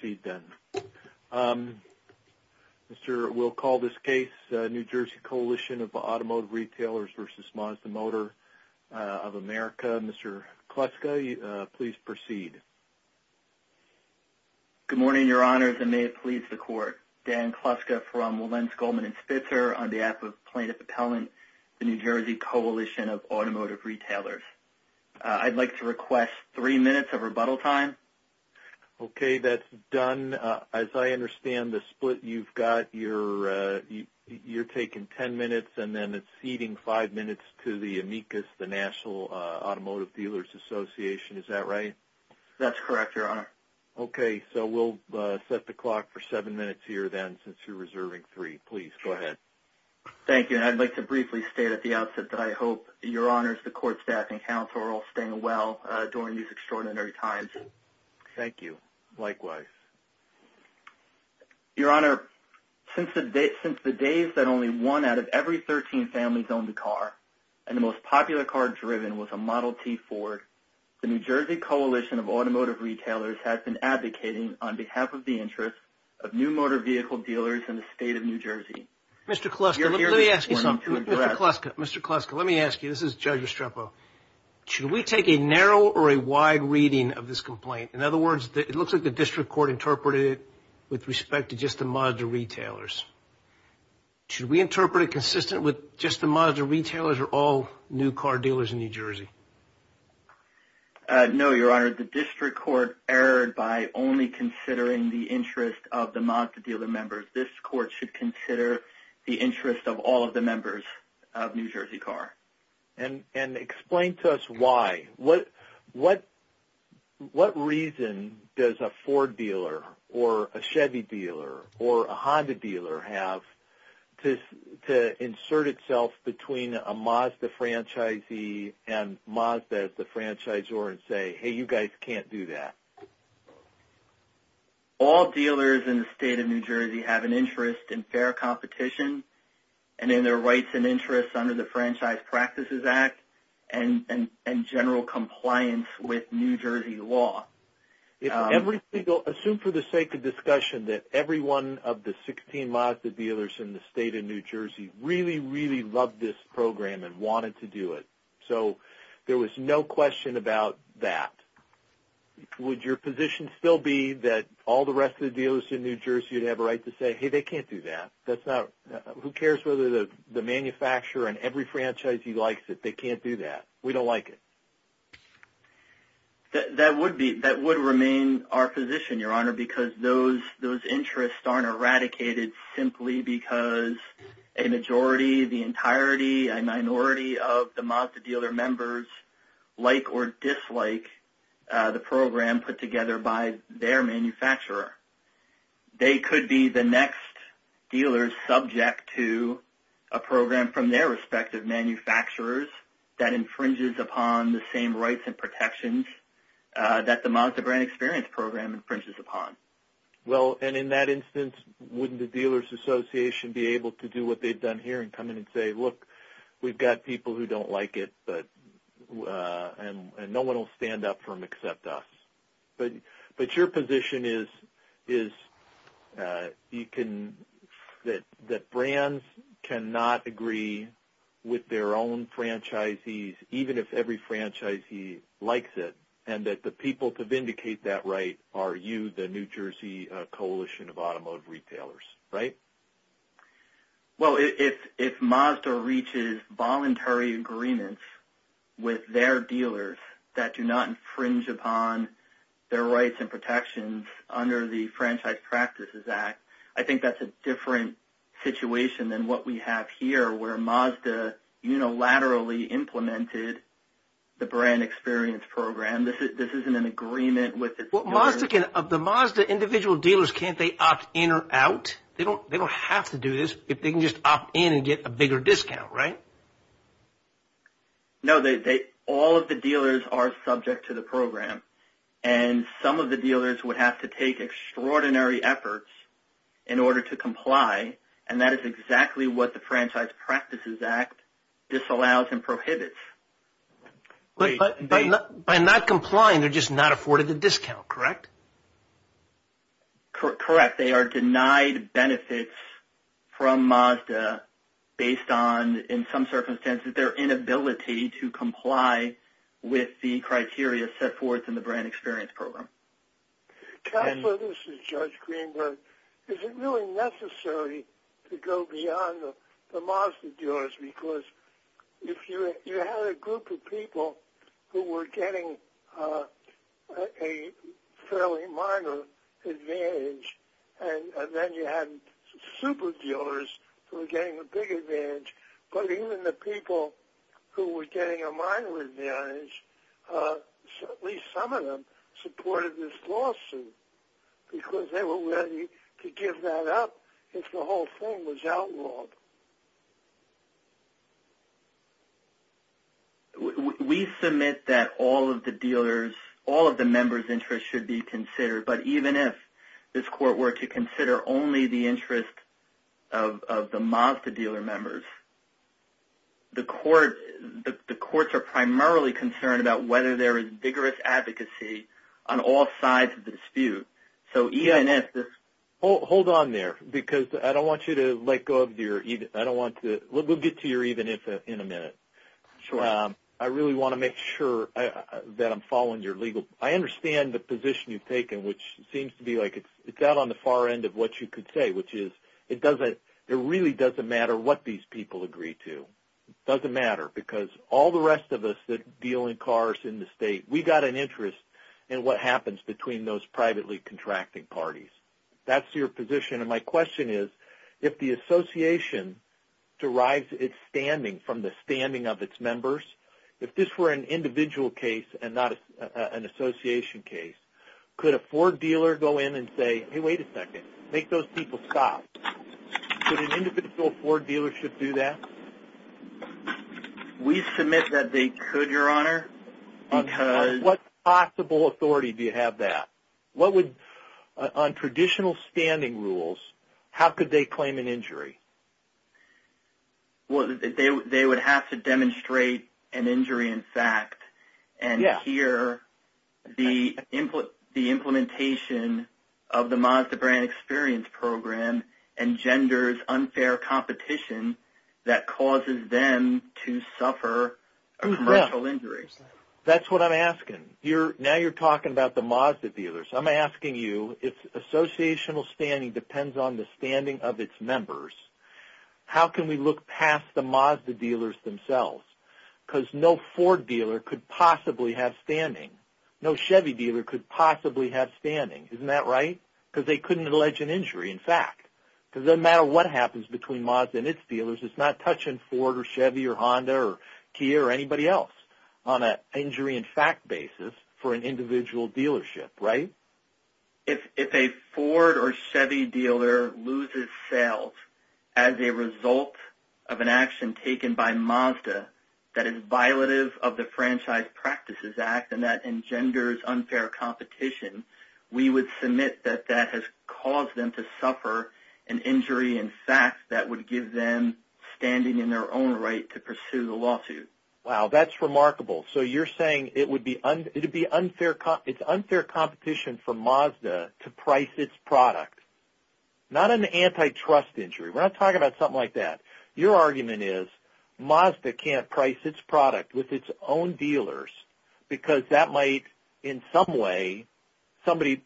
Please proceed then. We'll call this case New Jersey Coalition of Automotive Retailers v. Mazda Motor of America. Mr. Kluska, please proceed. Good morning, Your Honors, and may it please the Court. Dan Kluska from Wilentz, Goldman & Spitzer on behalf of Plaintiff Appellant, the New Jersey Coalition of Automotive Retailers. Dan, as I understand the split you've got, you're taking ten minutes and then it's ceding five minutes to the AMECAS, the National Automotive Dealers Association, is that right? That's correct, Your Honor. Okay, so we'll set the clock for seven minutes here then since you're reserving three. Please go ahead. Thank you, and I'd like to briefly state at the outset that I hope, Your Honors, the Court, staff, and counsel are all staying well during these extraordinary times. Thank you. Likewise. Your Honor, since the days that only one out of every thirteen families owned a car, and the most popular car driven was a Model T Ford, the New Jersey Coalition of Automotive Retailers has been advocating on behalf of the interests of new motor vehicle dealers in the state of New Jersey. Mr. Kluska, let me ask you something. Mr. Kluska, let me ask you. This is Judge Estrepo. Should we take a narrow or a wide reading of this complaint? In other words, it looks like the District Court interpreted it with respect to just the Mazda retailers. Should we interpret it consistent with just the Mazda retailers or all new car dealers in New Jersey? No, Your Honor. The District Court erred by only considering the interest of the Mazda dealer members. This Court should consider the interest of all of the members of New Jersey Car. And why? What reason does a Ford dealer or a Chevy dealer or a Honda dealer have to insert itself between a Mazda franchisee and Mazda as the franchisor and say, hey, you guys can't do that? All dealers in the state of New Jersey have an interest in fair competition and in general compliance with New Jersey law. Assume for the sake of discussion that every one of the 16 Mazda dealers in the state of New Jersey really, really loved this program and wanted to do it. So there was no question about that. Would your position still be that all the rest of the dealers in New Jersey would have a right to say, hey, they can't do that? Who cares whether the manufacturer and every franchisee likes it? They can't do that. We don't like it. That would remain our position, Your Honor, because those interests aren't eradicated simply because a majority, the entirety, a minority of the Mazda dealer members like or dislike the program put together by their manufacturer. They could be the next dealers subject to a program from their respective manufacturers that infringes upon the same rights and protections that the Mazda Brand Experience Program infringes upon. Well, and in that instance, wouldn't the Dealers Association be able to do what they've done here and come in and say, look, we've got people who don't like it, and no one will stand up for them except us. But your position is that brands cannot agree with their own franchisees, even if every franchisee likes it, and that the people to vindicate that right are you, the New Jersey Coalition of Automotive Retailers, right? Well, if Mazda reaches voluntary agreements with their dealers that do not infringe upon their rights and protections under the Franchise Practices Act, I think that's a different situation than what we have here, where Mazda unilaterally implemented the Brand Experience Program. This isn't an agreement with its dealers. Well, of the Mazda individual dealers, can't they opt in or out? They don't have to do this if they can just opt in and get a bigger discount, right? No, all of the dealers are subject to the program, and some of the dealers would have to take extraordinary efforts in order to comply, and that is exactly what the Franchise Practices Act disallows and prohibits. But by not complying, they're just not afforded the discount, correct? Correct. They are denied benefits from Mazda based on, in some circumstances, their inability to comply with the criteria set forth in the Brand Experience Program. Counselor, this is Judge Greenberg. Is it really necessary to go beyond the Mazda dealers? Because if you had a group of people who were getting a fairly minor advantage, and then you had super dealers who were getting a big advantage, but even the people who were getting a minor advantage, at least some of them supported this lawsuit, because they were ready to give that up if the whole thing was outlawed. We submit that all of the dealer's, all of the member's interest should be considered, but even if this court were to consider only the interest of the Mazda dealer members, the courts are primarily concerned about whether there is vigorous advocacy on all sides of the dispute. So, EINF... Hold on there, because I don't want you to let go of your, we'll get to your even if in a minute. Sure. I really want to make sure that I'm following your legal, I understand the position you've taken, which seems to be like it's out on the far end of what you could say, which is it really doesn't matter what these people agree to. It doesn't matter, because all the rest of us that deal in cars in the state, we got an interest in what happens between those privately contracting parties. That's your position. And my question is, if the association derives its standing from the standing of its members, if this were an individual case and not an association case, could a Ford dealer go in and say, hey, wait a second, make those people stop? Could an individual Ford dealership do that? We submit that they could, Your Honor, because... What possible authority do you have that? What would, on traditional standing rules, how could they claim an injury? Well, they would have to demonstrate an injury in fact and hear the implementation of the Mazda brand experience program engenders unfair competition that causes them to suffer a commercial injury. That's what I'm asking. Now you're talking about the Mazda dealers. I'm asking you, if associational standing depends on the standing of its members, how can we look past the Mazda dealers themselves? Because no Ford dealer could possibly have standing. No Chevy dealer could possibly have standing. Isn't that right? Because they couldn't allege an injury in fact. Because no matter what happens between Mazda and its dealers, it's not touching Ford or Chevy or Honda or Kia or anybody else on an injury in fact basis for an individual dealership. Right? If a Ford or Chevy dealer loses sales as a result of an action taken by Mazda that is violative of the Franchise Practices Act and that engenders unfair competition, we would submit that that has caused them to suffer an injury in fact that would give them standing in their own right to pursue the lawsuit. Wow, that's remarkable. So you're saying it would be unfair competition for Mazda to price its product. Not an antitrust injury. We're not talking about something like that. Your argument is Mazda can't price its product with its own dealers because that might in some way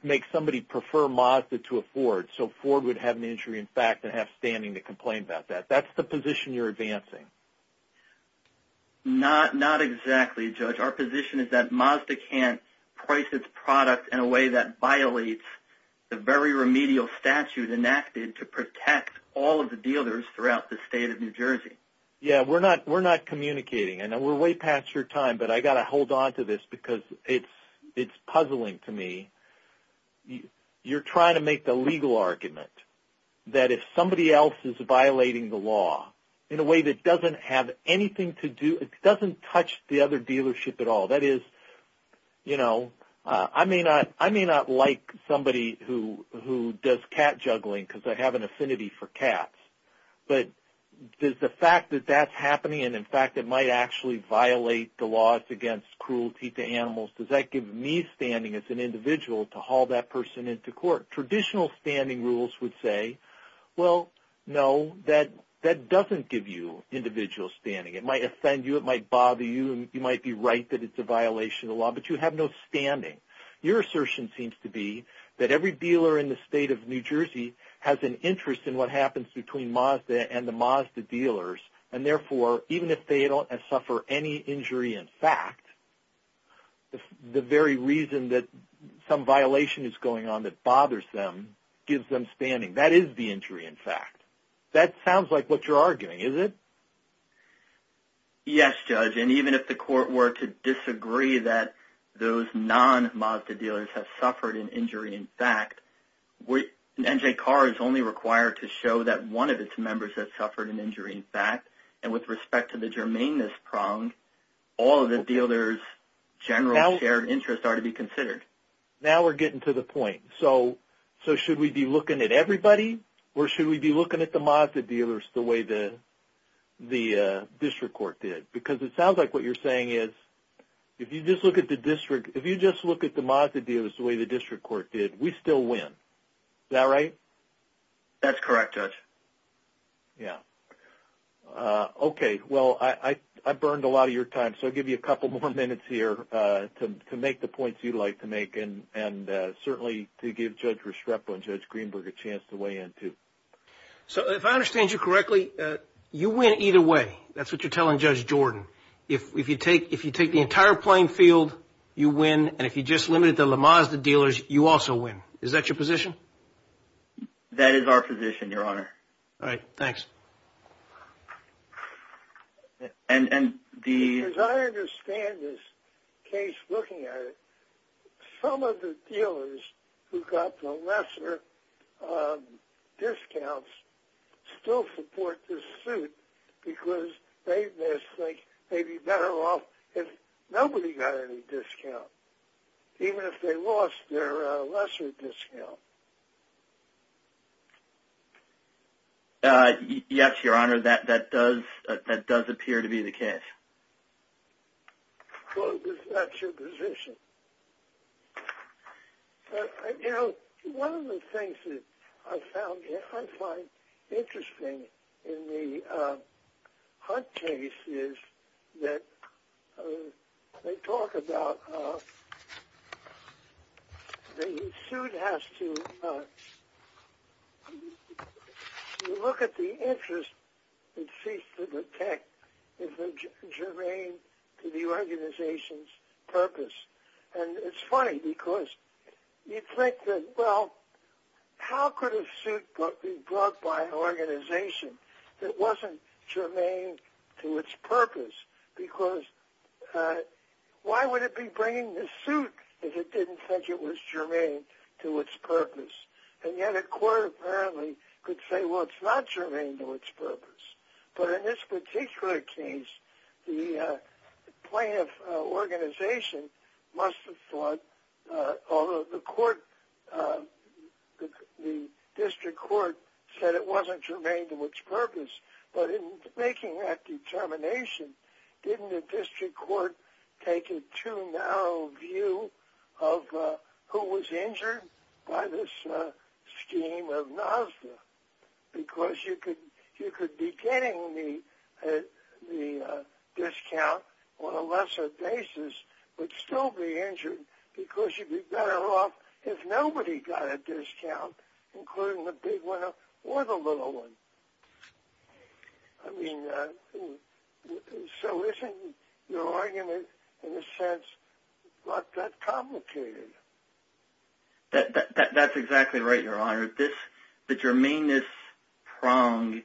make somebody prefer Mazda to a Ford so Ford would have an injury in fact and have standing to complain about that. That's the position you're advancing. Not exactly, Judge. Our position is that Mazda can't price its product in a way that violates the very remedial statute enacted to protect all of the dealers throughout the state of New Jersey. Yeah, we're not communicating. I know we're way past your time but I got to hold on to this because it's puzzling to me. You're trying to make the legal argument that if somebody else is violating the law in a way that doesn't have anything to do, it doesn't touch the other dealership at all. That is, you know, I may not like somebody who does cat juggling because I have an affinity for cats but does the fact that that's happening and, in fact, it might actually violate the laws against cruelty to animals, does that give me standing as an individual to haul that person into court? Traditional standing rules would say, well, no, that doesn't give you individual standing. It might offend you. It might bother you. You might be right that it's a violation of the law but you have no standing. Your assertion seems to be that every dealer in the state of New Jersey has an interest in what happens between Mazda and the Mazda dealers and, therefore, even if they don't suffer any gives them standing. That is the injury, in fact. That sounds like what you're arguing, is it? Yes, Judge, and even if the court were to disagree that those non-Mazda dealers have suffered an injury, in fact, NJCAR is only required to show that one of its members has suffered an injury, in fact, and with respect to the germaneness prong, all of the dealers' general shared interests are to be considered. Now we're getting to the point. So should we be looking at everybody or should we be looking at the Mazda dealers the way the district court did? Because it sounds like what you're saying is if you just look at the Mazda dealers the way the district court did, we still win. Is that right? That's correct, Judge. Yes. Okay, well, I burned a lot of your time so I'll give you a couple more minutes here to make the points you'd like to make and certainly to give Judge Restrepo and Judge Greenberg a chance to weigh in, too. So if I understand you correctly, you win either way. That's what you're telling Judge Jordan. If you take the entire playing field, you win, and if you just limit it to the Mazda dealers, you also win. Is that your position? That is our position, Your Honor. All right, thanks. As I understand this case looking at it, some of the dealers who got the lesser discounts still support this suit because they just think they'd be better off if nobody got any discount, even if they lost their lesser discount. Yes, Your Honor, that does appear to be the case. Well, if that's your position. You know, one of the things that I find interesting in the Hunt case is that they talk about the suit has to look at the interest it seeks to protect if they're germane to the organization's purpose. And it's funny because you'd think that, well, how could a suit be brought by an organization that wasn't germane to its purpose? Because why would it be bringing the suit if it didn't think it was germane to its purpose? And yet a court apparently could say, well, it's not germane to its purpose. But in this particular case, the plaintiff organization must have thought, although the didn't the district court take a too narrow view of who was injured by this scheme of NASDA? Because you could be getting the discount on a lesser basis but still be injured because you'd be better off if nobody got a discount, including the big winner or the little one. I mean, so isn't your argument, in a sense, not that complicated? That's exactly right, Your Honor. The germane-ness prong,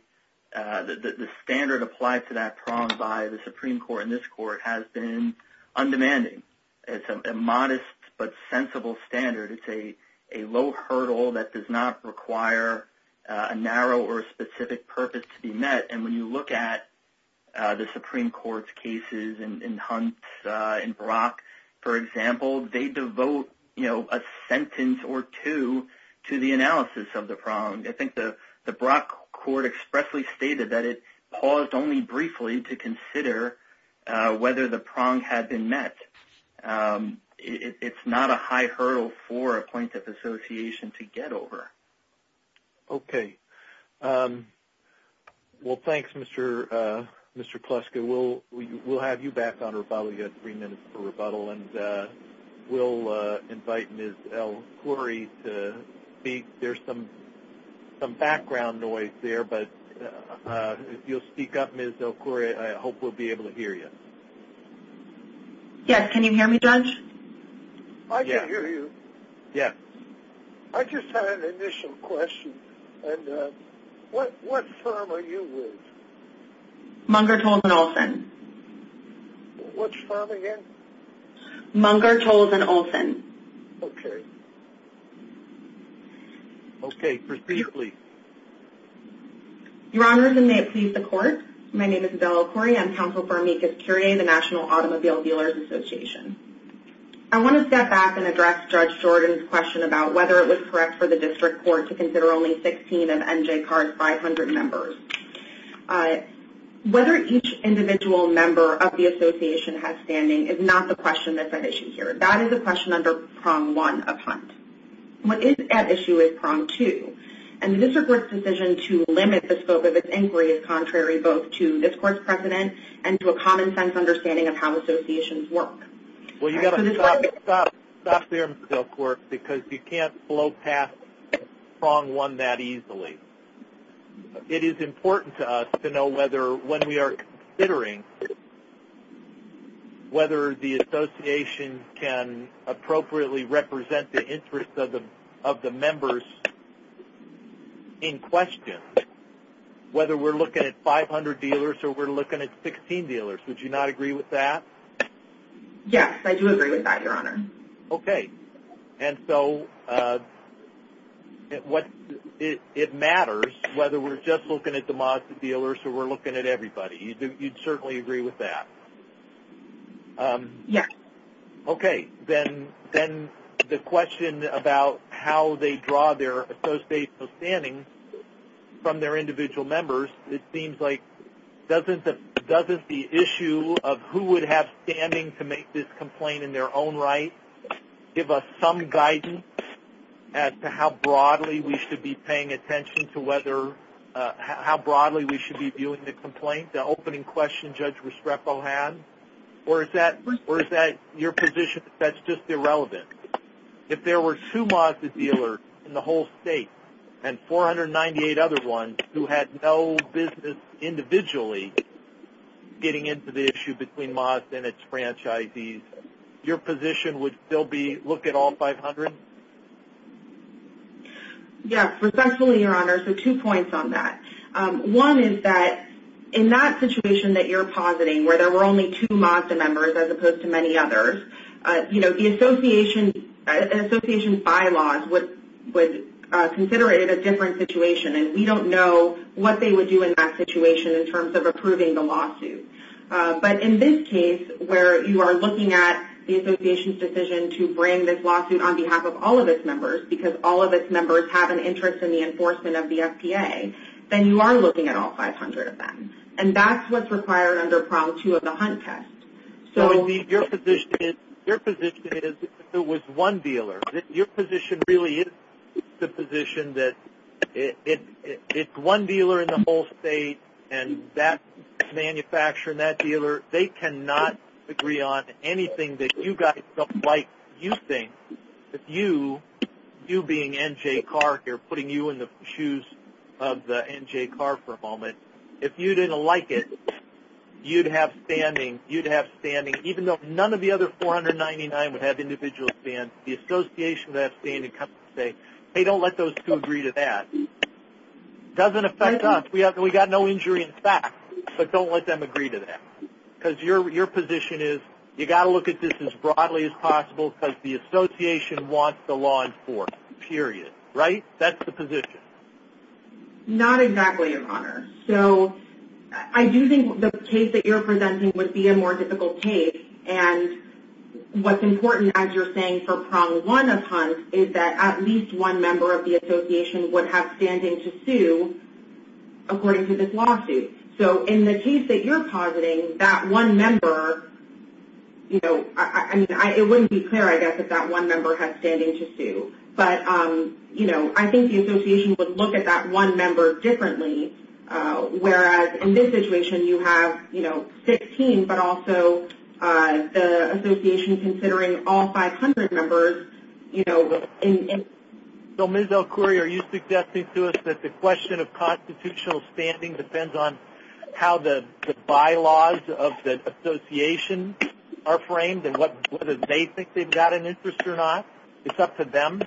the standard applied to that prong by the Supreme Court and this court has been undemanding. It's a modest but sensible standard. It's a low hurdle that does not require a narrow or a specific purpose to be met. And when you look at the Supreme Court's cases in Hunt, in Brock, for example, they devote a sentence or two to the analysis of the prong. I think the Brock court expressly stated that it paused only briefly to consider whether the prong had been met. It's not a high hurdle for a plaintiff association to get over. Okay. Well, thanks, Mr. Kluska. We'll have you back on rebuttal. You have three minutes for rebuttal and we'll invite Ms. El-Khoury to speak. There's some background noise there but if you'll speak up, Ms. El-Khoury, I hope we'll be able to hear you. Yes. Can you hear me, Judge? I can hear you. Yes. I just had an initial question. What firm are you with? Munger, Tolles, and Olsen. What's the firm again? Munger, Tolles, and Olsen. Okay. Okay. Please speak. Your Honor, and may it please the court, my name is Adele El-Khoury. I'm counsel for amicus curiae, the National Automobile Dealers Association. I want to step back and address Judge Jordan's question about whether it was correct for the district court to consider only 16 of NJCAR's 500 members. Whether each individual member of the association has standing is not the question that's at issue here. That is a question under prong one of Hunt. What is at issue is prong two. And the district court's decision to limit the scope of its inquiry is contrary both to this court's precedent and to a common sense understanding of how associations work. Well, you've got to stop there, Ms. El-Khoury, because you can't blow past prong one that easily. It is important to us to know whether when we are considering whether the association can appropriately represent the interest of the members in question, whether we're looking at 500 dealers or we're looking at 16 dealers. Would you not agree with that? Yes, I do agree with that, Your Honor. Okay. And so it matters whether we're just looking at the Mazda dealers or we're looking at everybody. You'd certainly agree with that? Yes. Okay. Then the question about how they draw their association of standing from their individual members, it seems like doesn't the issue of who would have standing to make this complaint in their own right give us some guidance as to how broadly we should be paying attention to whether – how broadly we should be viewing the complaint, the opening question Judge Restrepo had? Or is that your position that that's just irrelevant? If there were two Mazda dealers in the whole state and 498 other ones who had no business individually getting into the issue between Mazda and its franchisees, your position would still be look at all 500? Yes, respectfully, Your Honor, so two points on that. One is that in that situation that you're positing where there were only two Mazda members as opposed to many others, you know, the association – an association bylaws would consider it a different situation and we don't know what they would do in that situation in terms of approving the lawsuit. But in this case where you are looking at the association's decision to bring this lawsuit on behalf of all of its members because all of its members have an interest in the enforcement of the FPA, then you are looking at all 500 of them. And that's what's required under Prong 2 of the Hunt Test. So your position is if it was one dealer. Your position really is the position that it's one dealer in the whole state and that manufacturer and that dealer, they cannot agree on anything that you guys don't like using. If you, you being NJCAR here, putting you in the shoes of the NJCAR for a moment, if you didn't like it, you'd have standing. You'd have standing even though none of the other 499 would have individual stands. The association would have standing and come and say, hey, don't let those two agree to that. It doesn't affect us. We got no injury in fact, but don't let them agree to that because your position is you got to look at this as broadly as possible because the association wants the law enforced, period. Right? That's the position. Not exactly, Your Honor. So I do think the case that you're presenting would be a more difficult case. And what's important as you're saying for Prong 1 of Hunt is that at least one member of the association would have standing to sue according to this lawsuit. So in the case that you're positing, that one member, you know, I mean, it wouldn't be clear I guess if that one member had standing to sue. But, you know, I think the association would look at that one member differently whereas in this situation you have, you know, 16 but also the association considering all 500 members, you know, and... So Ms. El-Khoury, are you suggesting to us that the question of constitutional standing depends on how the bylaws of the association are framed and whether they think they've got an interest or not? It's up to them?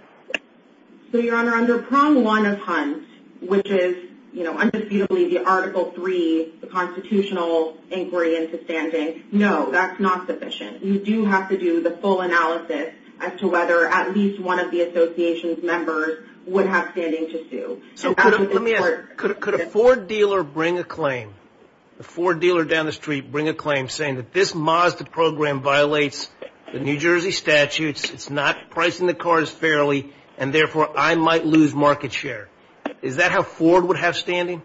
So, Your Honor, under Prong 1 of Hunt, which is, you know, undisputably the Article 3, the constitutional inquiry into standing, no, that's not sufficient. You do have to do the full analysis as to whether at least one of the association's members would have standing to sue. So let me ask, could a Ford dealer bring a claim? A Ford dealer down the street bring a claim saying that this Mazda program violates the New Jersey statutes. It's not pricing the cars fairly and therefore I might lose market share. Is that how Ford would have standing?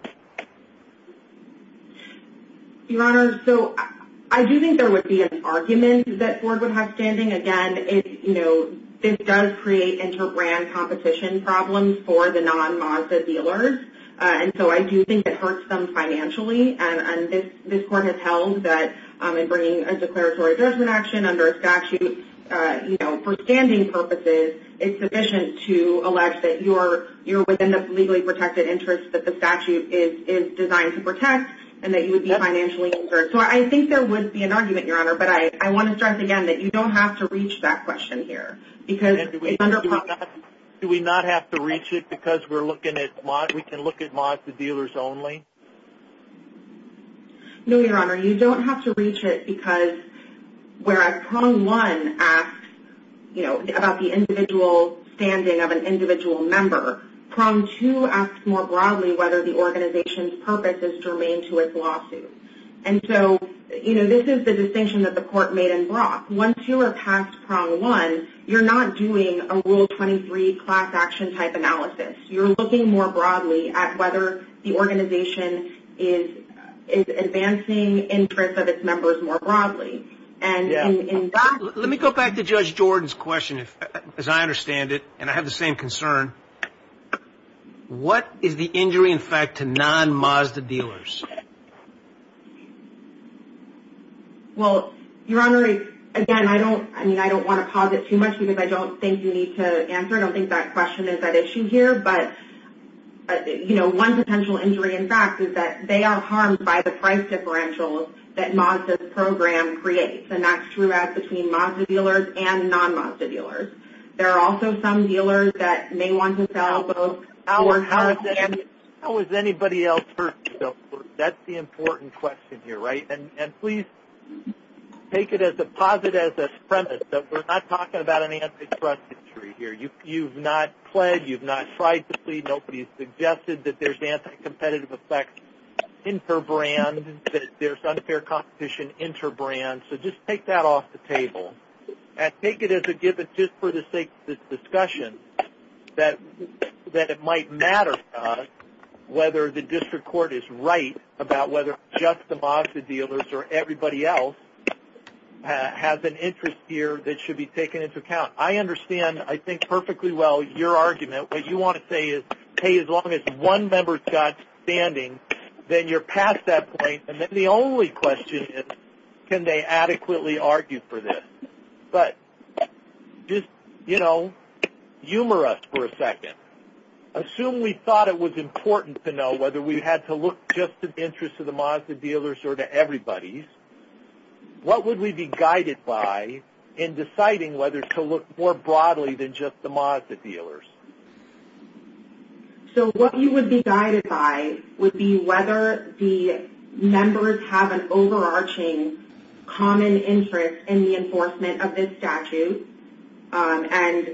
Your Honor, so I do think there would be an argument that Ford would have standing. Again, you know, this does create inter-brand competition problems for the non-Mazda dealers and so I do think it hurts them financially and this Court has held that in bringing a for standing purposes, it's sufficient to allege that you're within the legally protected interest that the statute is designed to protect and that you would be financially insured. So I think there would be an argument, Your Honor, but I want to stress again that you don't have to reach that question here because it's under Prong 1. Do we not have to reach it because we can look at Mazda dealers only? No, Your Honor. You don't have to reach it because whereas Prong 1 asks, you know, about the individual standing of an individual member, Prong 2 asks more broadly whether the organization's purpose is to remain to its lawsuit. And so, you know, this is the distinction that the Court made in Brock. Once you are past Prong 1, you're not doing a Rule 23 class action type analysis. You're looking more broadly at whether the organization is advancing interest of its members more broadly. Let me go back to Judge Jordan's question as I understand it and I have the same concern. What is the injury in fact to non-Mazda dealers? Well, Your Honor, again, I don't want to posit too much because I don't think you need to answer. I don't think that question is at issue here. But, you know, one potential injury in fact is that they are harmed by the price differentials that Mazda's program creates. And that's true as between Mazda dealers and non-Mazda dealers. There are also some dealers that may want to sell both hours and days. How has anybody else hurt themselves? That's the important question here, right? And please take it as a positive premise that we're not talking about an antitrust injury here. You've not pled, you've not tried to plead, nobody's suggested that there's anti-competitive effects interbrand, that there's unfair competition interbrand. So just take that off the table. And take it as a given just for the sake of this discussion that it might matter to us whether the district court is right about whether just the Mazda dealers or everybody else has an interest here that should be taken into account. I understand, I think, perfectly well your argument. What you want to say is, hey, as long as one member's got standing, then you're past that point. And then the only question is, can they adequately argue for this? But just, you know, humor us for a second. Assume we thought it was important to know whether we had to look just to the interests of the Mazda dealers or to everybody's. What would we be guided by in deciding whether to look more broadly than just the Mazda dealers? So what you would be guided by would be whether the members have an overarching common interest in the enforcement of this statute and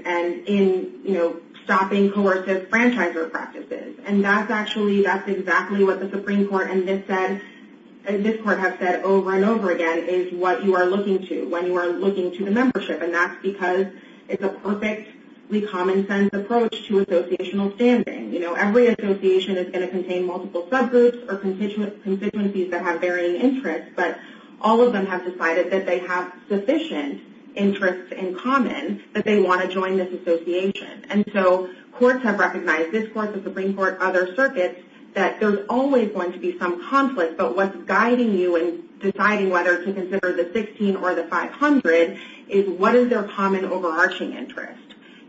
in, you know, stopping coercive franchisor practices. And that's actually, that's exactly what the Supreme Court and this court have said over and over again is what you are looking to when you are looking to the membership. And that's because it's a perfectly common sense approach to associational standing. You know, every association is going to contain multiple subgroups or constituencies that have varying interests. But all of them have decided that they have sufficient interests in common that they want to join this association. And so courts have recognized, this court, the Supreme Court, other circuits, that there's always going to be some conflict. But what's guiding you in deciding whether to consider the 16 or the 500 is what is their common overarching interest.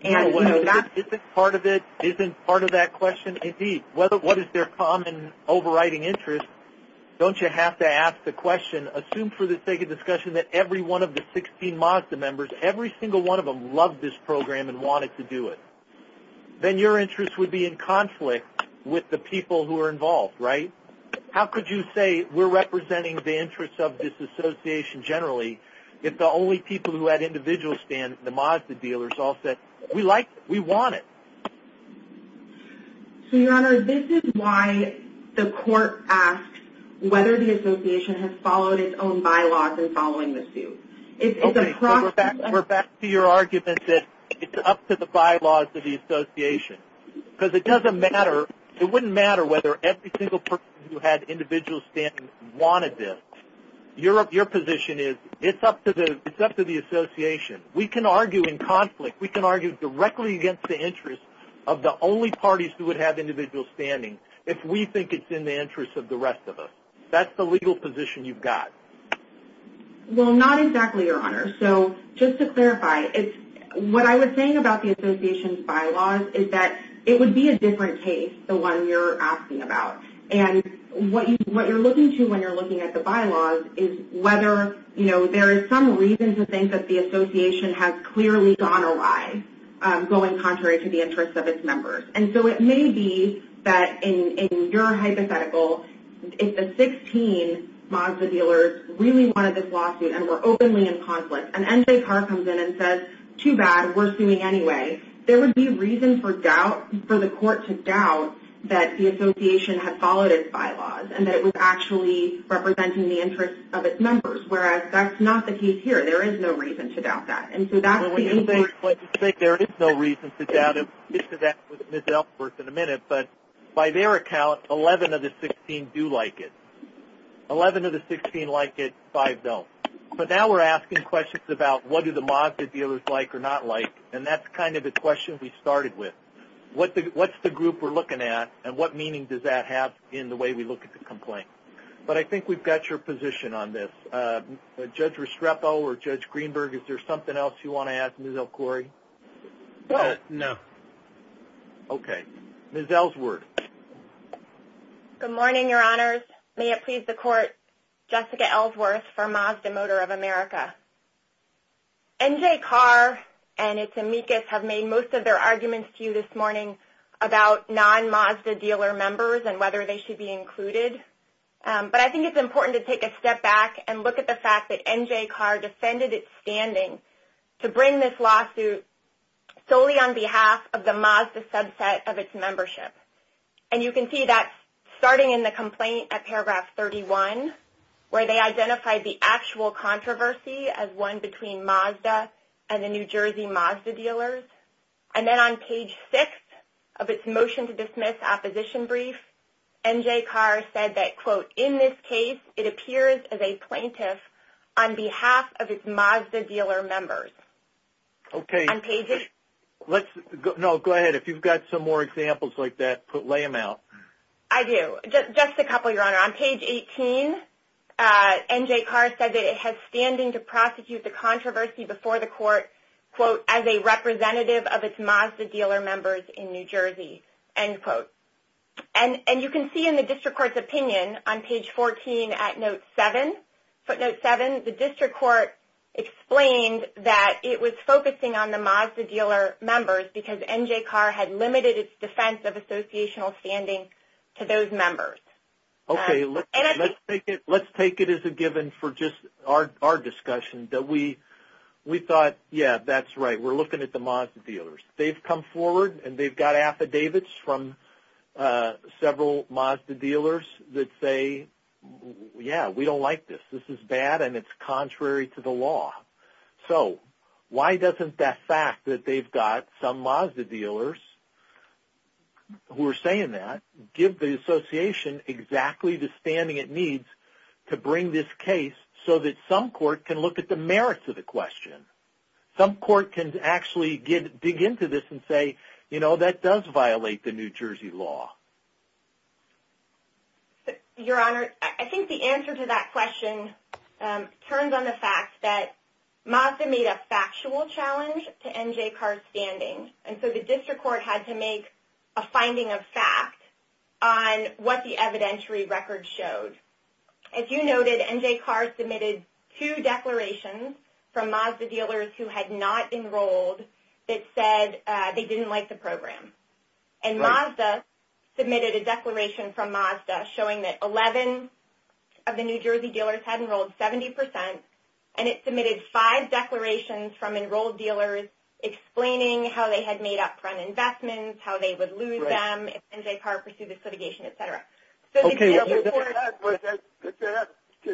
And, you know, that's... Isn't part of it, isn't part of that question? Indeed. What is their common overriding interest? Don't you have to ask the question. Assume for the sake of discussion that every one of the 16 Mazda members, every single one of them loved this program and wanted to do it. Then your interest would be in conflict with the people who are involved, right? How could you say we're representing the interests of this association generally if the only people who had individual stands, the Mazda dealers, all said, we like it, we want it. So, Your Honor, this is why the court asks whether the association has followed its own bylaws in following the suit. Okay, so we're back to your argument that it's up to the bylaws of the association. Because it doesn't matter, it wouldn't matter whether every single person who had individual standing wanted this. Your position is it's up to the association. We can argue in conflict. We can argue directly against the interests of the only parties who would have individual standing if we think it's in the interests of the rest of us. That's the legal position you've got. Well, not exactly, Your Honor. So, just to clarify, what I was saying about the association's bylaws is that it would be a different case, the one you're asking about. And what you're looking to when you're looking at the bylaws is whether, you know, there is some reason to think that the association has clearly gone awry going contrary to the interests of its members. And so, it may be that in your hypothetical, if the 16 Mazda dealers really wanted this lawsuit and were openly in conflict, and NCAR comes in and says, too bad, we're suing anyway, there would be reason for doubt, for the court to doubt that the association had followed its bylaws and that it was actually representing the interests of its members. Whereas, that's not the case here. There is no reason to doubt that. Well, when you say there is no reason to doubt it, we'll get to that with Ms. Ellsworth in a minute. But by their account, 11 of the 16 do like it. 11 of the 16 like it, 5 don't. But now we're asking questions about what do the Mazda dealers like or not like. And that's kind of the question we started with. What's the group we're looking at and what meaning does that have in the way we look at the complaint? But I think we've got your position on this. Judge Restrepo or Judge Greenberg, is there something else you want to ask Ms. El-Khoury? No. Okay. Ms. Ellsworth. Good morning, your honors. May it please the court, Jessica Ellsworth for Mazda Motor of America. NJCAR and its amicus have made most of their arguments to you this morning about non-Mazda dealer members and whether they should be included. But I think it's important to take a step back and look at the fact that NJCAR defended its standing to bring this lawsuit solely on behalf of the Mazda subset of its membership. And you can see that starting in the complaint at paragraph 31 where they identified the actual controversy as one between Mazda and the New Jersey Mazda dealers. And then on page 6 of its motion to dismiss opposition brief, NJCAR said that, quote, in this case, it appears as a plaintiff on behalf of its Mazda dealer members. Okay. No, go ahead. If you've got some more examples like that, lay them out. I do. Just a couple, your honor. On page 18, NJCAR said that it has standing to prosecute the controversy before the court, quote, as a representative of its Mazda dealer members in New Jersey, end quote. And you can see in the district court's opinion on page 14 at note 7, footnote 7, the district court explained that it was focusing on the Mazda dealer members because NJCAR had limited its defense of associational standing to those members. Okay. Let's take it as a given for just our discussion that we thought, yeah, that's right, we're looking at the Mazda dealers. They've come forward and they've got affidavits from several Mazda dealers that say, yeah, we don't like this. This is bad and it's contrary to the law. So why doesn't that fact that they've got some Mazda dealers who are saying that give the association exactly the standing it needs to bring this case so that some court can look at the merits of the question? Some court can actually dig into this and say, you know, that does violate the New Jersey law. Your honor, I think the answer to that question turns on the fact that Mazda made a factual challenge to NJCAR's standing. And so the district court had to make a finding of fact on what the evidentiary record showed. As you noted, NJCAR submitted two declarations from Mazda dealers who had not enrolled that said they didn't like the program. And Mazda submitted a declaration from Mazda showing that 11 of the New Jersey dealers had enrolled 70% and it submitted five declarations from enrolled dealers explaining how they had made up front investments, how they would lose them, if NJCAR pursued a litigation, et cetera. Did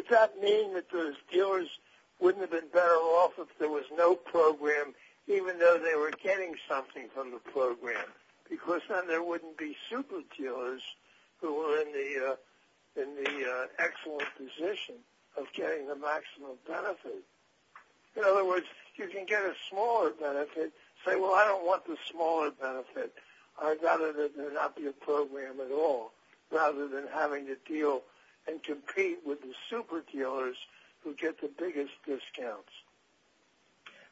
that mean that those dealers wouldn't have been better off if there was no program even though they were getting something from the program? Because then there wouldn't be super dealers who were in the excellent position of getting the maximum benefit. In other words, you can get a smaller benefit and say, well, I don't want the smaller benefit. I'd rather there not be a program at all rather than having to deal and compete with the super dealers who get the biggest discounts.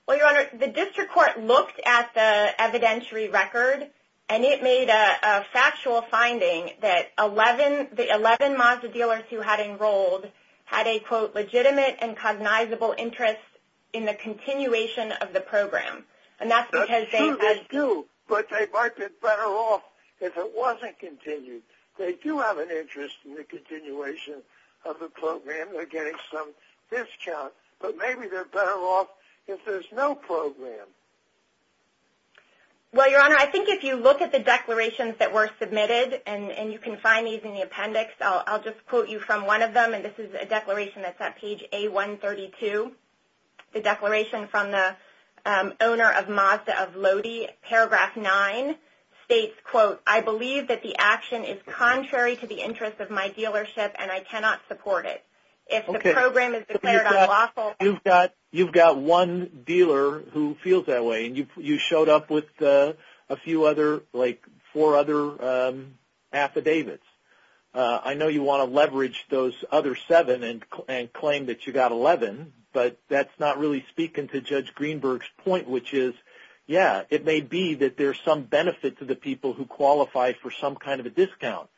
Well, Your Honor, the district court looked at the evidentiary record and it made a factual finding that the 11 Mazda dealers who had enrolled had a, quote, legitimate and cognizable interest in the continuation of the program. That's true, they do, but they might be better off if it wasn't continued. They do have an interest in the continuation of the program. They're getting some discounts, but maybe they're better off if there's no program. Well, Your Honor, I think if you look at the declarations that were submitted, and you can find these in the appendix, I'll just quote you from one of them. And this is a declaration that's at page A132. The declaration from the owner of Mazda of Lodi, paragraph 9, states, quote, I believe that the action is contrary to the interest of my dealership and I cannot support it. If the program is declared unlawful. You've got one dealer who feels that way, and you showed up with a few other, like, four other affidavits. I know you want to leverage those other seven and claim that you got 11, but that's not really speaking to Judge Greenberg's point, which is, yeah, it may be that there's some benefit to the people who qualify for some kind of a discount.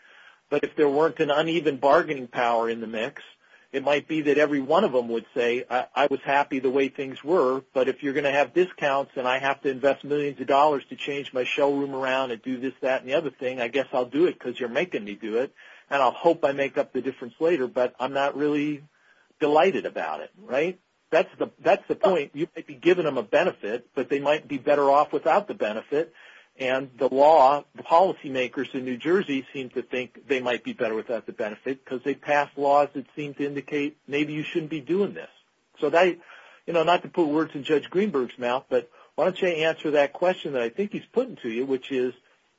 But if there weren't an uneven bargaining power in the mix, it might be that every one of them would say, I was happy the way things were, but if you're going to have discounts and I have to invest millions of dollars to change my showroom around and do this, that, and the other thing, I guess I'll do it because you're making me do it. And I'll hope I make up the difference later, but I'm not really delighted about it. Right? That's the point. You might be giving them a benefit, but they might be better off without the benefit. And the law, the policymakers in New Jersey seem to think they might be better without the benefit because they pass laws that seem to indicate maybe you shouldn't be doing this. So that, you know, not to put words in Judge Greenberg's mouth, but why don't you answer that question that I think he's putting to you, which is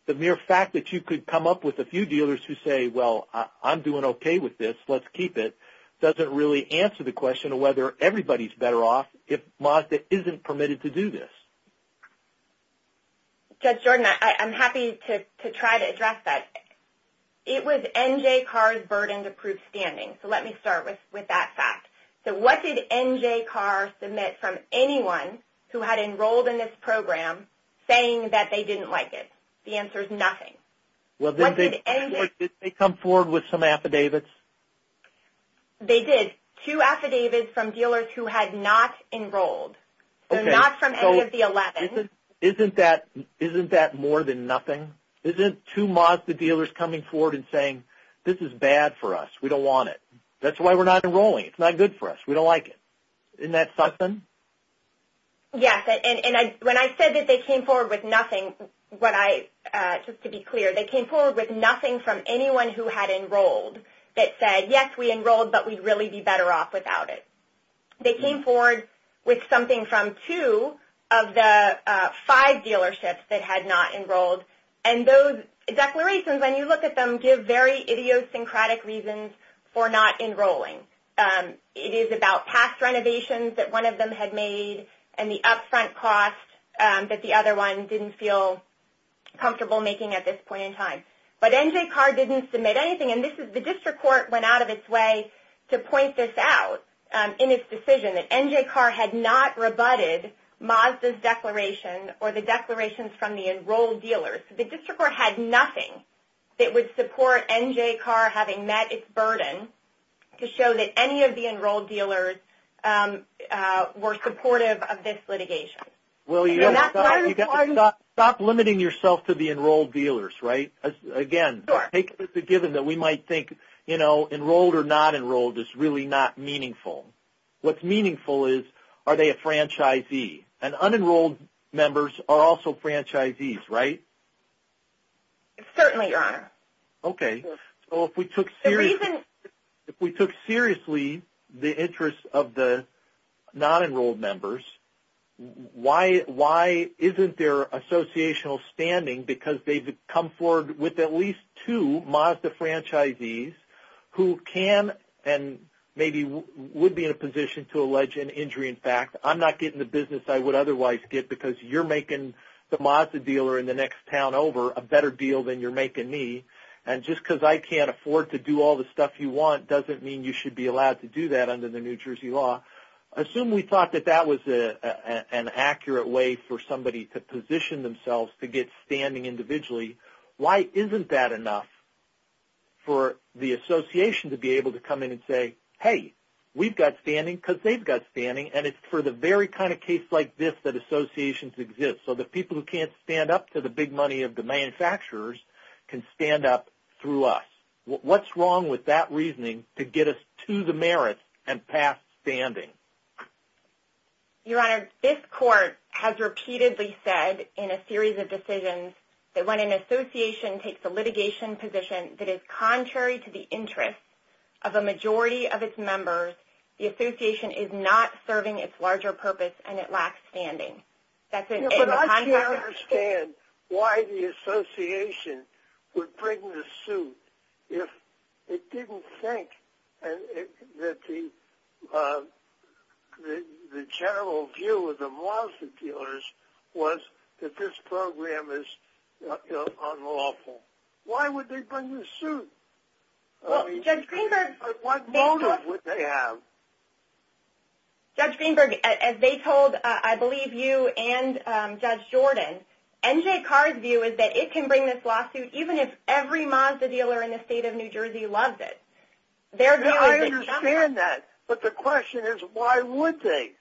the mere fact that you could come up with a few dealers who say, well, I'm doing okay with this, let's keep it, doesn't really answer the question of whether everybody's better off if Mazda isn't permitted to do this. Judge Jordan, I'm happy to try to address that. It was NJCAR's burden to prove standing. So let me start with that fact. So what did NJCAR submit from anyone who had enrolled in this program saying that they didn't like it? The answer is nothing. Well, did they come forward with some affidavits? They did. Two affidavits from dealers who had not enrolled. So not from any of the 11. Isn't that more than nothing? Isn't two Mazda dealers coming forward and saying, this is bad for us, we don't want it, that's why we're not enrolling, it's not good for us, we don't like it. Isn't that something? Yes. And when I said that they came forward with nothing, what I, just to be clear, they came forward with nothing from anyone who had enrolled that said, yes, we enrolled, but we'd really be better off without it. They came forward with something from two of the five dealerships that had not enrolled. And those declarations, when you look at them, give very idiosyncratic reasons for not enrolling. It is about past renovations that one of them had made and the upfront cost that the other one didn't feel comfortable making at this point in time. But NJCAR didn't submit anything. And this is, the district court went out of its way to point this out in its decision that NJCAR had not rebutted Mazda's declaration or the declarations from the enrolled dealers. The district court had nothing that would support NJCAR having met its burden to show that any of the enrolled dealers were supportive of this litigation. Well, you got to stop limiting yourself to the enrolled dealers, right? Again, take the given that we might think, you know, enrolled or not enrolled is really not meaningful. What's meaningful is, are they a franchisee? And unenrolled members are also franchisees, right? Certainly are. Okay. So if we took seriously the interests of the non-enrolled members, why isn't their standing because they've come forward with at least two Mazda franchisees who can and maybe would be in a position to allege an injury in fact. I'm not getting the business I would otherwise get because you're making the Mazda dealer in the next town over a better deal than you're making me. And just because I can't afford to do all the stuff you want doesn't mean you should be allowed to do that under the New Jersey law. Assume we thought that that was an accurate way for somebody to position themselves to get standing individually. Why isn't that enough for the association to be able to come in and say, hey, we've got standing because they've got standing. And it's for the very kind of case like this that associations exist, so the people who can't stand up to the big money of the manufacturers can stand up through us. What's wrong with that reasoning to get us to the merits and past standing? Your Honor, this court has repeatedly said in a series of decisions that when an association takes a litigation position that is contrary to the interests of a majority of its members, the association is not serving its larger purpose and it lacks standing. For us to understand why the association would bring the suit if it didn't think that the general view of the Mazda dealers was that this program is unlawful. Why would they bring the suit? What motive would they have? Judge Greenberg, as they told, I believe, you and Judge Jordan, N.J. Carr's view is that it can bring this lawsuit even if every Mazda dealer in the state of New Jersey loves it. I understand that, but the question is why would they?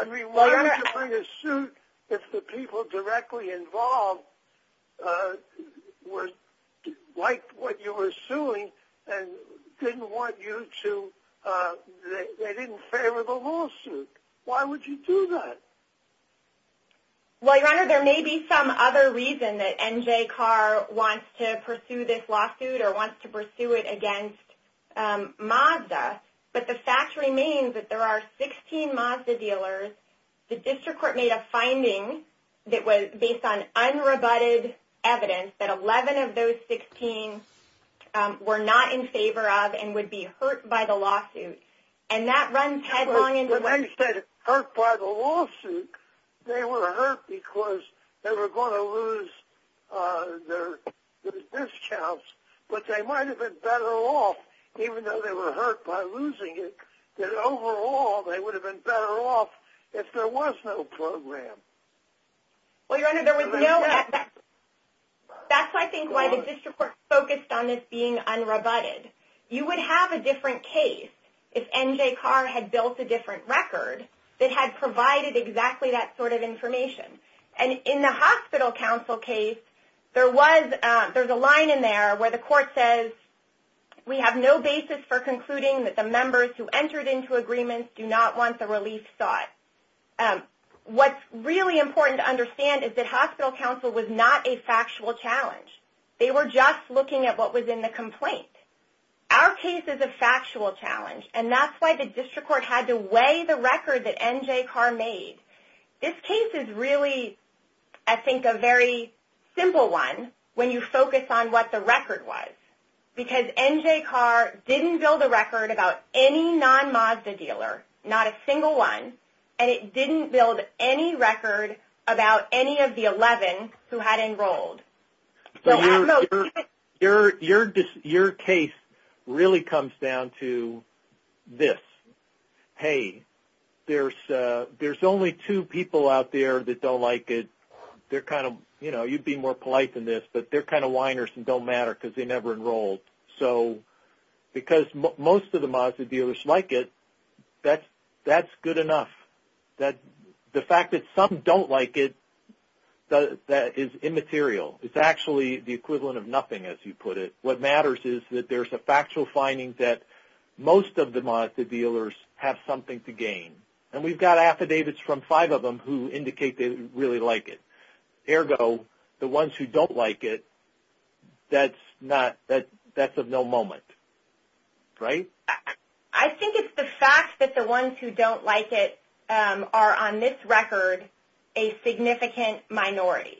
I mean, why would you bring a suit if the people directly involved liked what you were doing and they didn't favor the lawsuit? Why would you do that? Well, Your Honor, there may be some other reason that N.J. Carr wants to pursue this lawsuit or wants to pursue it against Mazda, but the fact remains that there are 16 Mazda dealers. The district court made a finding that was based on unrebutted evidence that 11 of those 16 were not in favor of and would be hurt by the lawsuit, and that runs headlong into the lawsuit. But they said hurt by the lawsuit. They were hurt because they were going to lose their discounts, but they might have been better off, even though they were hurt by losing it, that overall they would have been better off if there was no program. Well, Your Honor, there was no – that's why I think why the district court focused on this being unrebutted. You would have a different case if N.J. Carr had built a different record that had provided exactly that sort of information. And in the hospital counsel case, there was – there's a line in there where the court says, we have no basis for concluding that the members who entered into agreements do not want the relief sought. What's really important to understand is that hospital counsel was not a factual challenge. They were just looking at what was in the complaint. Our case is a factual challenge, and that's why the district court had to weigh the record that N.J. Carr made. This case is really, I think, a very simple one when you focus on what the record was, because N.J. Carr didn't build a record about any non-MASDA dealer, not a single one, and it didn't build any record about any of the 11 who had enrolled. Your case really comes down to this. Hey, there's only two people out there that don't like it. They're kind of – you know, you'd be more polite than this, but they're kind of whiners and don't matter because they never enrolled. So because most of the MASDA dealers like it, that's good enough. The fact that some don't like it, that is immaterial. It's actually the equivalent of nothing, as you put it. What matters is that there's a factual finding that most of the MASDA dealers have something to gain. And we've got affidavits from five of them who indicate they really like it. Ergo, the ones who don't like it, that's of no moment, right? I think it's the fact that the ones who don't like it are, on this record, a significant minority.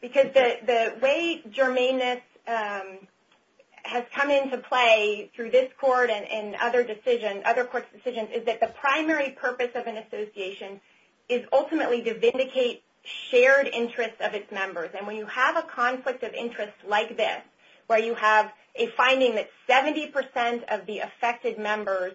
Because the way germaneness has come into play through this court and other courts' decisions is that the primary purpose of an association is ultimately to vindicate shared interests of its members. And when you have a conflict of interest like this, where you have a finding that 70% of the affected members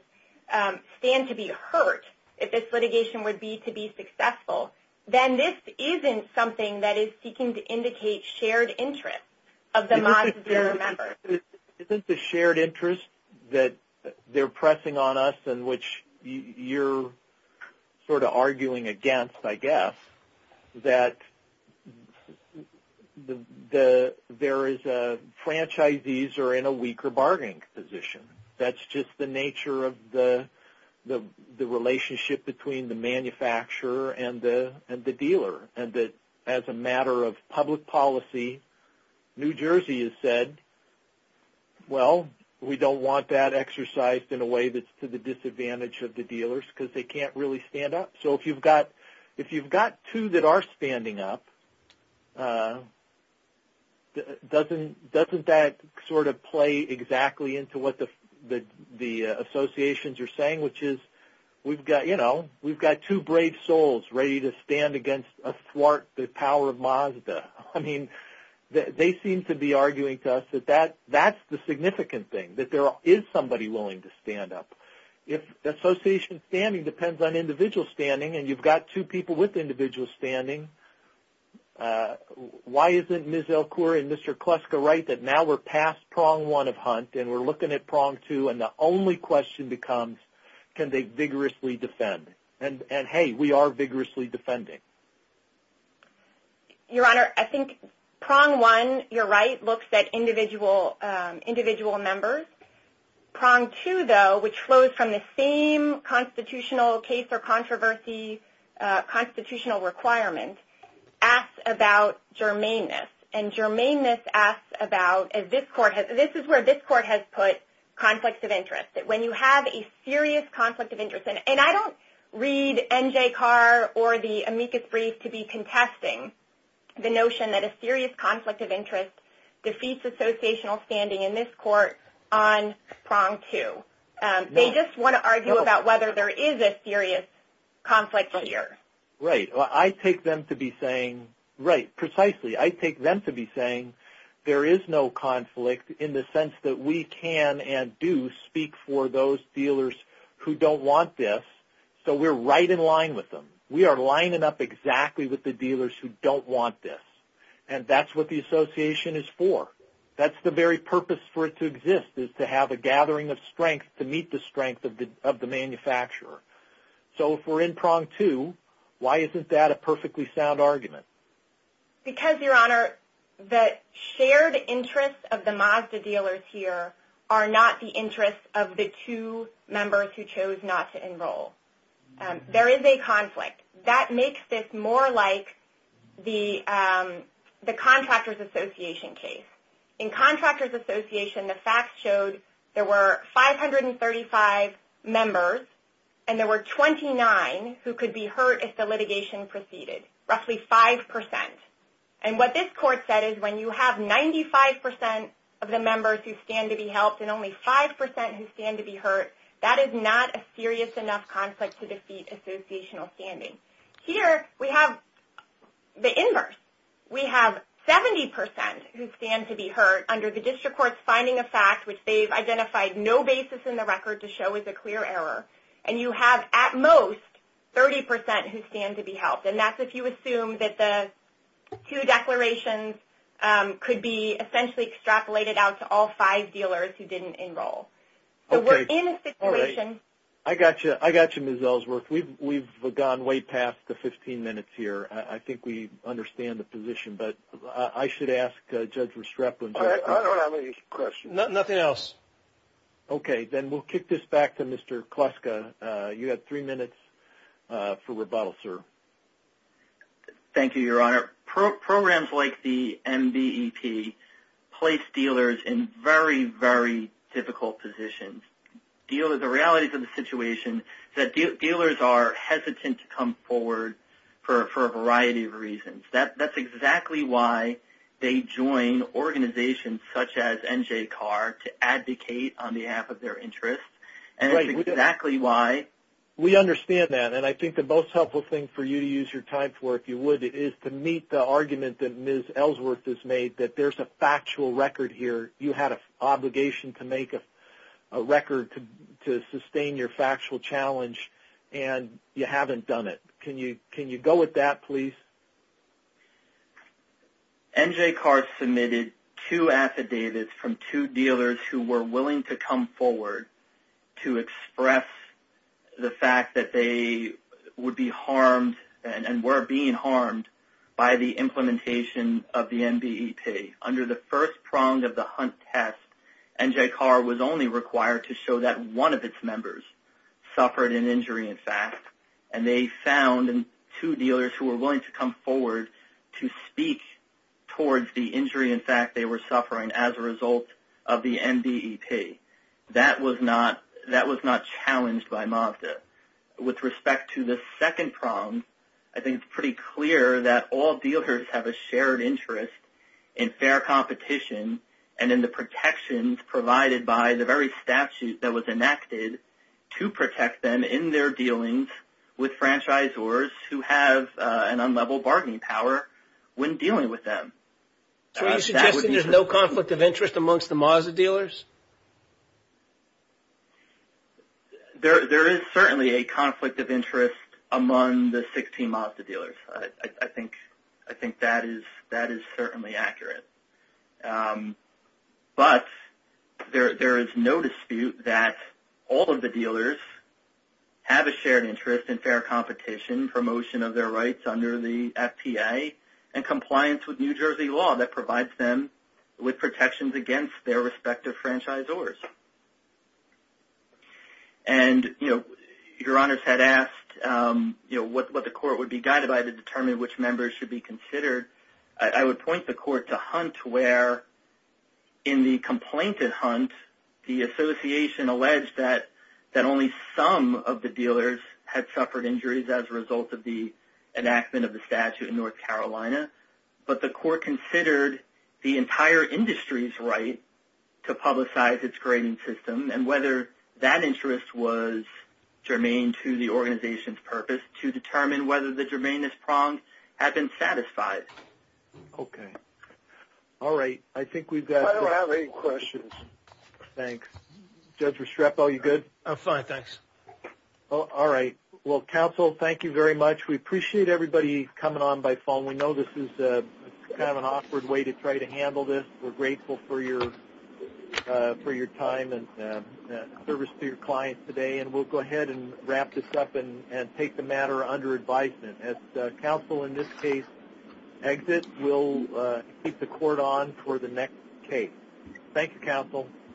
stand to be hurt if this litigation were to be successful, then this isn't something that is seeking to indicate shared interests of the MASDA dealer members. Isn't the shared interest that they're pressing on us and which you're sort of arguing against, I guess, that there is a franchisees are in a weaker bargaining position? That's just the nature of the relationship between the manufacturer and the dealer. And that as a matter of public policy, New Jersey has said, well, we don't want that exercised in a way that's to the disadvantage of the dealers because they can't really stand up. So if you've got two that are standing up, doesn't that sort of play exactly into what the associations are saying, which is, you know, we've got two brave souls ready to stand against a thwart the power of MASDA. I mean, they seem to be arguing to us that that's the significant thing, that there is somebody willing to stand up. If the association standing depends on individual standing and you've got two people with individual standing, why isn't Ms. Elkor and Mr. Kleska right that now we're past prong one of hunt and we're looking at prong two and the only question becomes, can they vigorously defend? And, hey, we are vigorously defending. Your Honor, I think prong one, you're right, looks at individual members. Prong two, though, which flows from the same constitutional case or controversial constitutional requirement, asks about germaneness. And germaneness asks about, this is where this court has put conflicts of interest, that when you have a serious conflict of interest, and I don't read N.J. Carr or the amicus brief to be contesting the notion that a serious conflict of interest defeats associational standing in this court on prong two. They just want to argue about whether there is a serious conflict here. Right. I take them to be saying, right, precisely, I take them to be saying, there is no conflict in the sense that we can and do speak for those dealers who don't want this, so we're right in line with them. We are lining up exactly with the dealers who don't want this. And that's what the association is for. That's the very purpose for it to exist is to have a gathering of strength to meet the strength of the manufacturer. So if we're in prong two, why isn't that a perfectly sound argument? Because, Your Honor, the shared interests of the Mazda dealers here are not the interests of the two members who chose not to enroll. There is a conflict. That makes this more like the Contractors Association case. In Contractors Association, the facts showed there were 535 members and there were 29 who could be hurt if the litigation proceeded, roughly 5%. And what this court said is when you have 95% of the members who stand to be helped and only 5% who stand to be hurt, that is not a serious enough conflict to defeat associational standing. Here we have the inverse. We have 70% who stand to be hurt under the district court's finding of fact, which they've identified no basis in the record to show is a clear error. And you have, at most, 30% who stand to be helped. And that's if you assume that the two declarations could be essentially extrapolated out to all five dealers who didn't enroll. So we're in a situation. I got you, Ms. Ellsworth. We've gone way past the 15 minutes here. I think we understand the position. But I should ask Judge Restrepo. I don't have any questions. Nothing else. Okay. Then we'll kick this back to Mr. Kluska. You have three minutes for rebuttal, sir. Thank you, Your Honor. Programs like the MBEP place dealers in very, very difficult positions. The realities of the situation is that dealers are hesitant to come forward for a variety of reasons. That's exactly why they join organizations such as NJCAR to advocate on behalf of their interests. And that's exactly why. We understand that. And I think the most helpful thing for you to use your time for, if you would, is to meet the argument that Ms. Ellsworth has made, that there's a factual record here. You had an obligation to make a record to sustain your factual challenge, and you haven't done it. Can you go with that, please? NJCAR submitted two affidavits from two dealers who were willing to come forward to express the fact that they would be harmed and were being harmed by the implementation of the MBEP. Under the first prong of the Hunt test, NJCAR was only required to show that one of its members suffered an injury, in fact, and they found two dealers who were willing to come forward to speak towards the injury, in fact, they were suffering as a result of the MBEP. That was not challenged by MAFTA. With respect to the second prong, I think it's pretty clear that all dealers have a shared interest in fair competition and in the protections provided by the very statute that was enacted to protect them in their dealings with franchisors who have an unlevel bargaining power when dealing with them. So are you suggesting there's no conflict of interest amongst the MAFTA dealers? There is certainly a conflict of interest among the 16 MAFTA dealers. I think that is certainly accurate. But there is no dispute that all of the dealers have a shared interest in fair competition, promotion of their rights under the FTA, and compliance with New Jersey law that provides them with protections against their respective franchisors. And your honors had asked what the court would be guided by to determine which members should be considered. I would point the court to Hunt, where in the complaint at Hunt, the association alleged that only some of the dealers had suffered injuries as a result of the enactment of the statute in North Carolina, but the court considered the entire industry's right to publicize its grading system and whether that interest was germane to the organization's purpose to determine whether the germaneness prong had been satisfied. Okay. All right. I think we've got... I don't have any questions. Thanks. Judge Restrepo, are you good? I'm fine, thanks. All right. Well, counsel, thank you very much. We appreciate everybody coming on by phone. We know this is kind of an awkward way to try to handle this. We're grateful for your time and service to your clients today, and we'll go ahead and wrap this up and take the matter under advisement. As counsel in this case exits, we'll keep the court on for the next case. Thank you, counsel.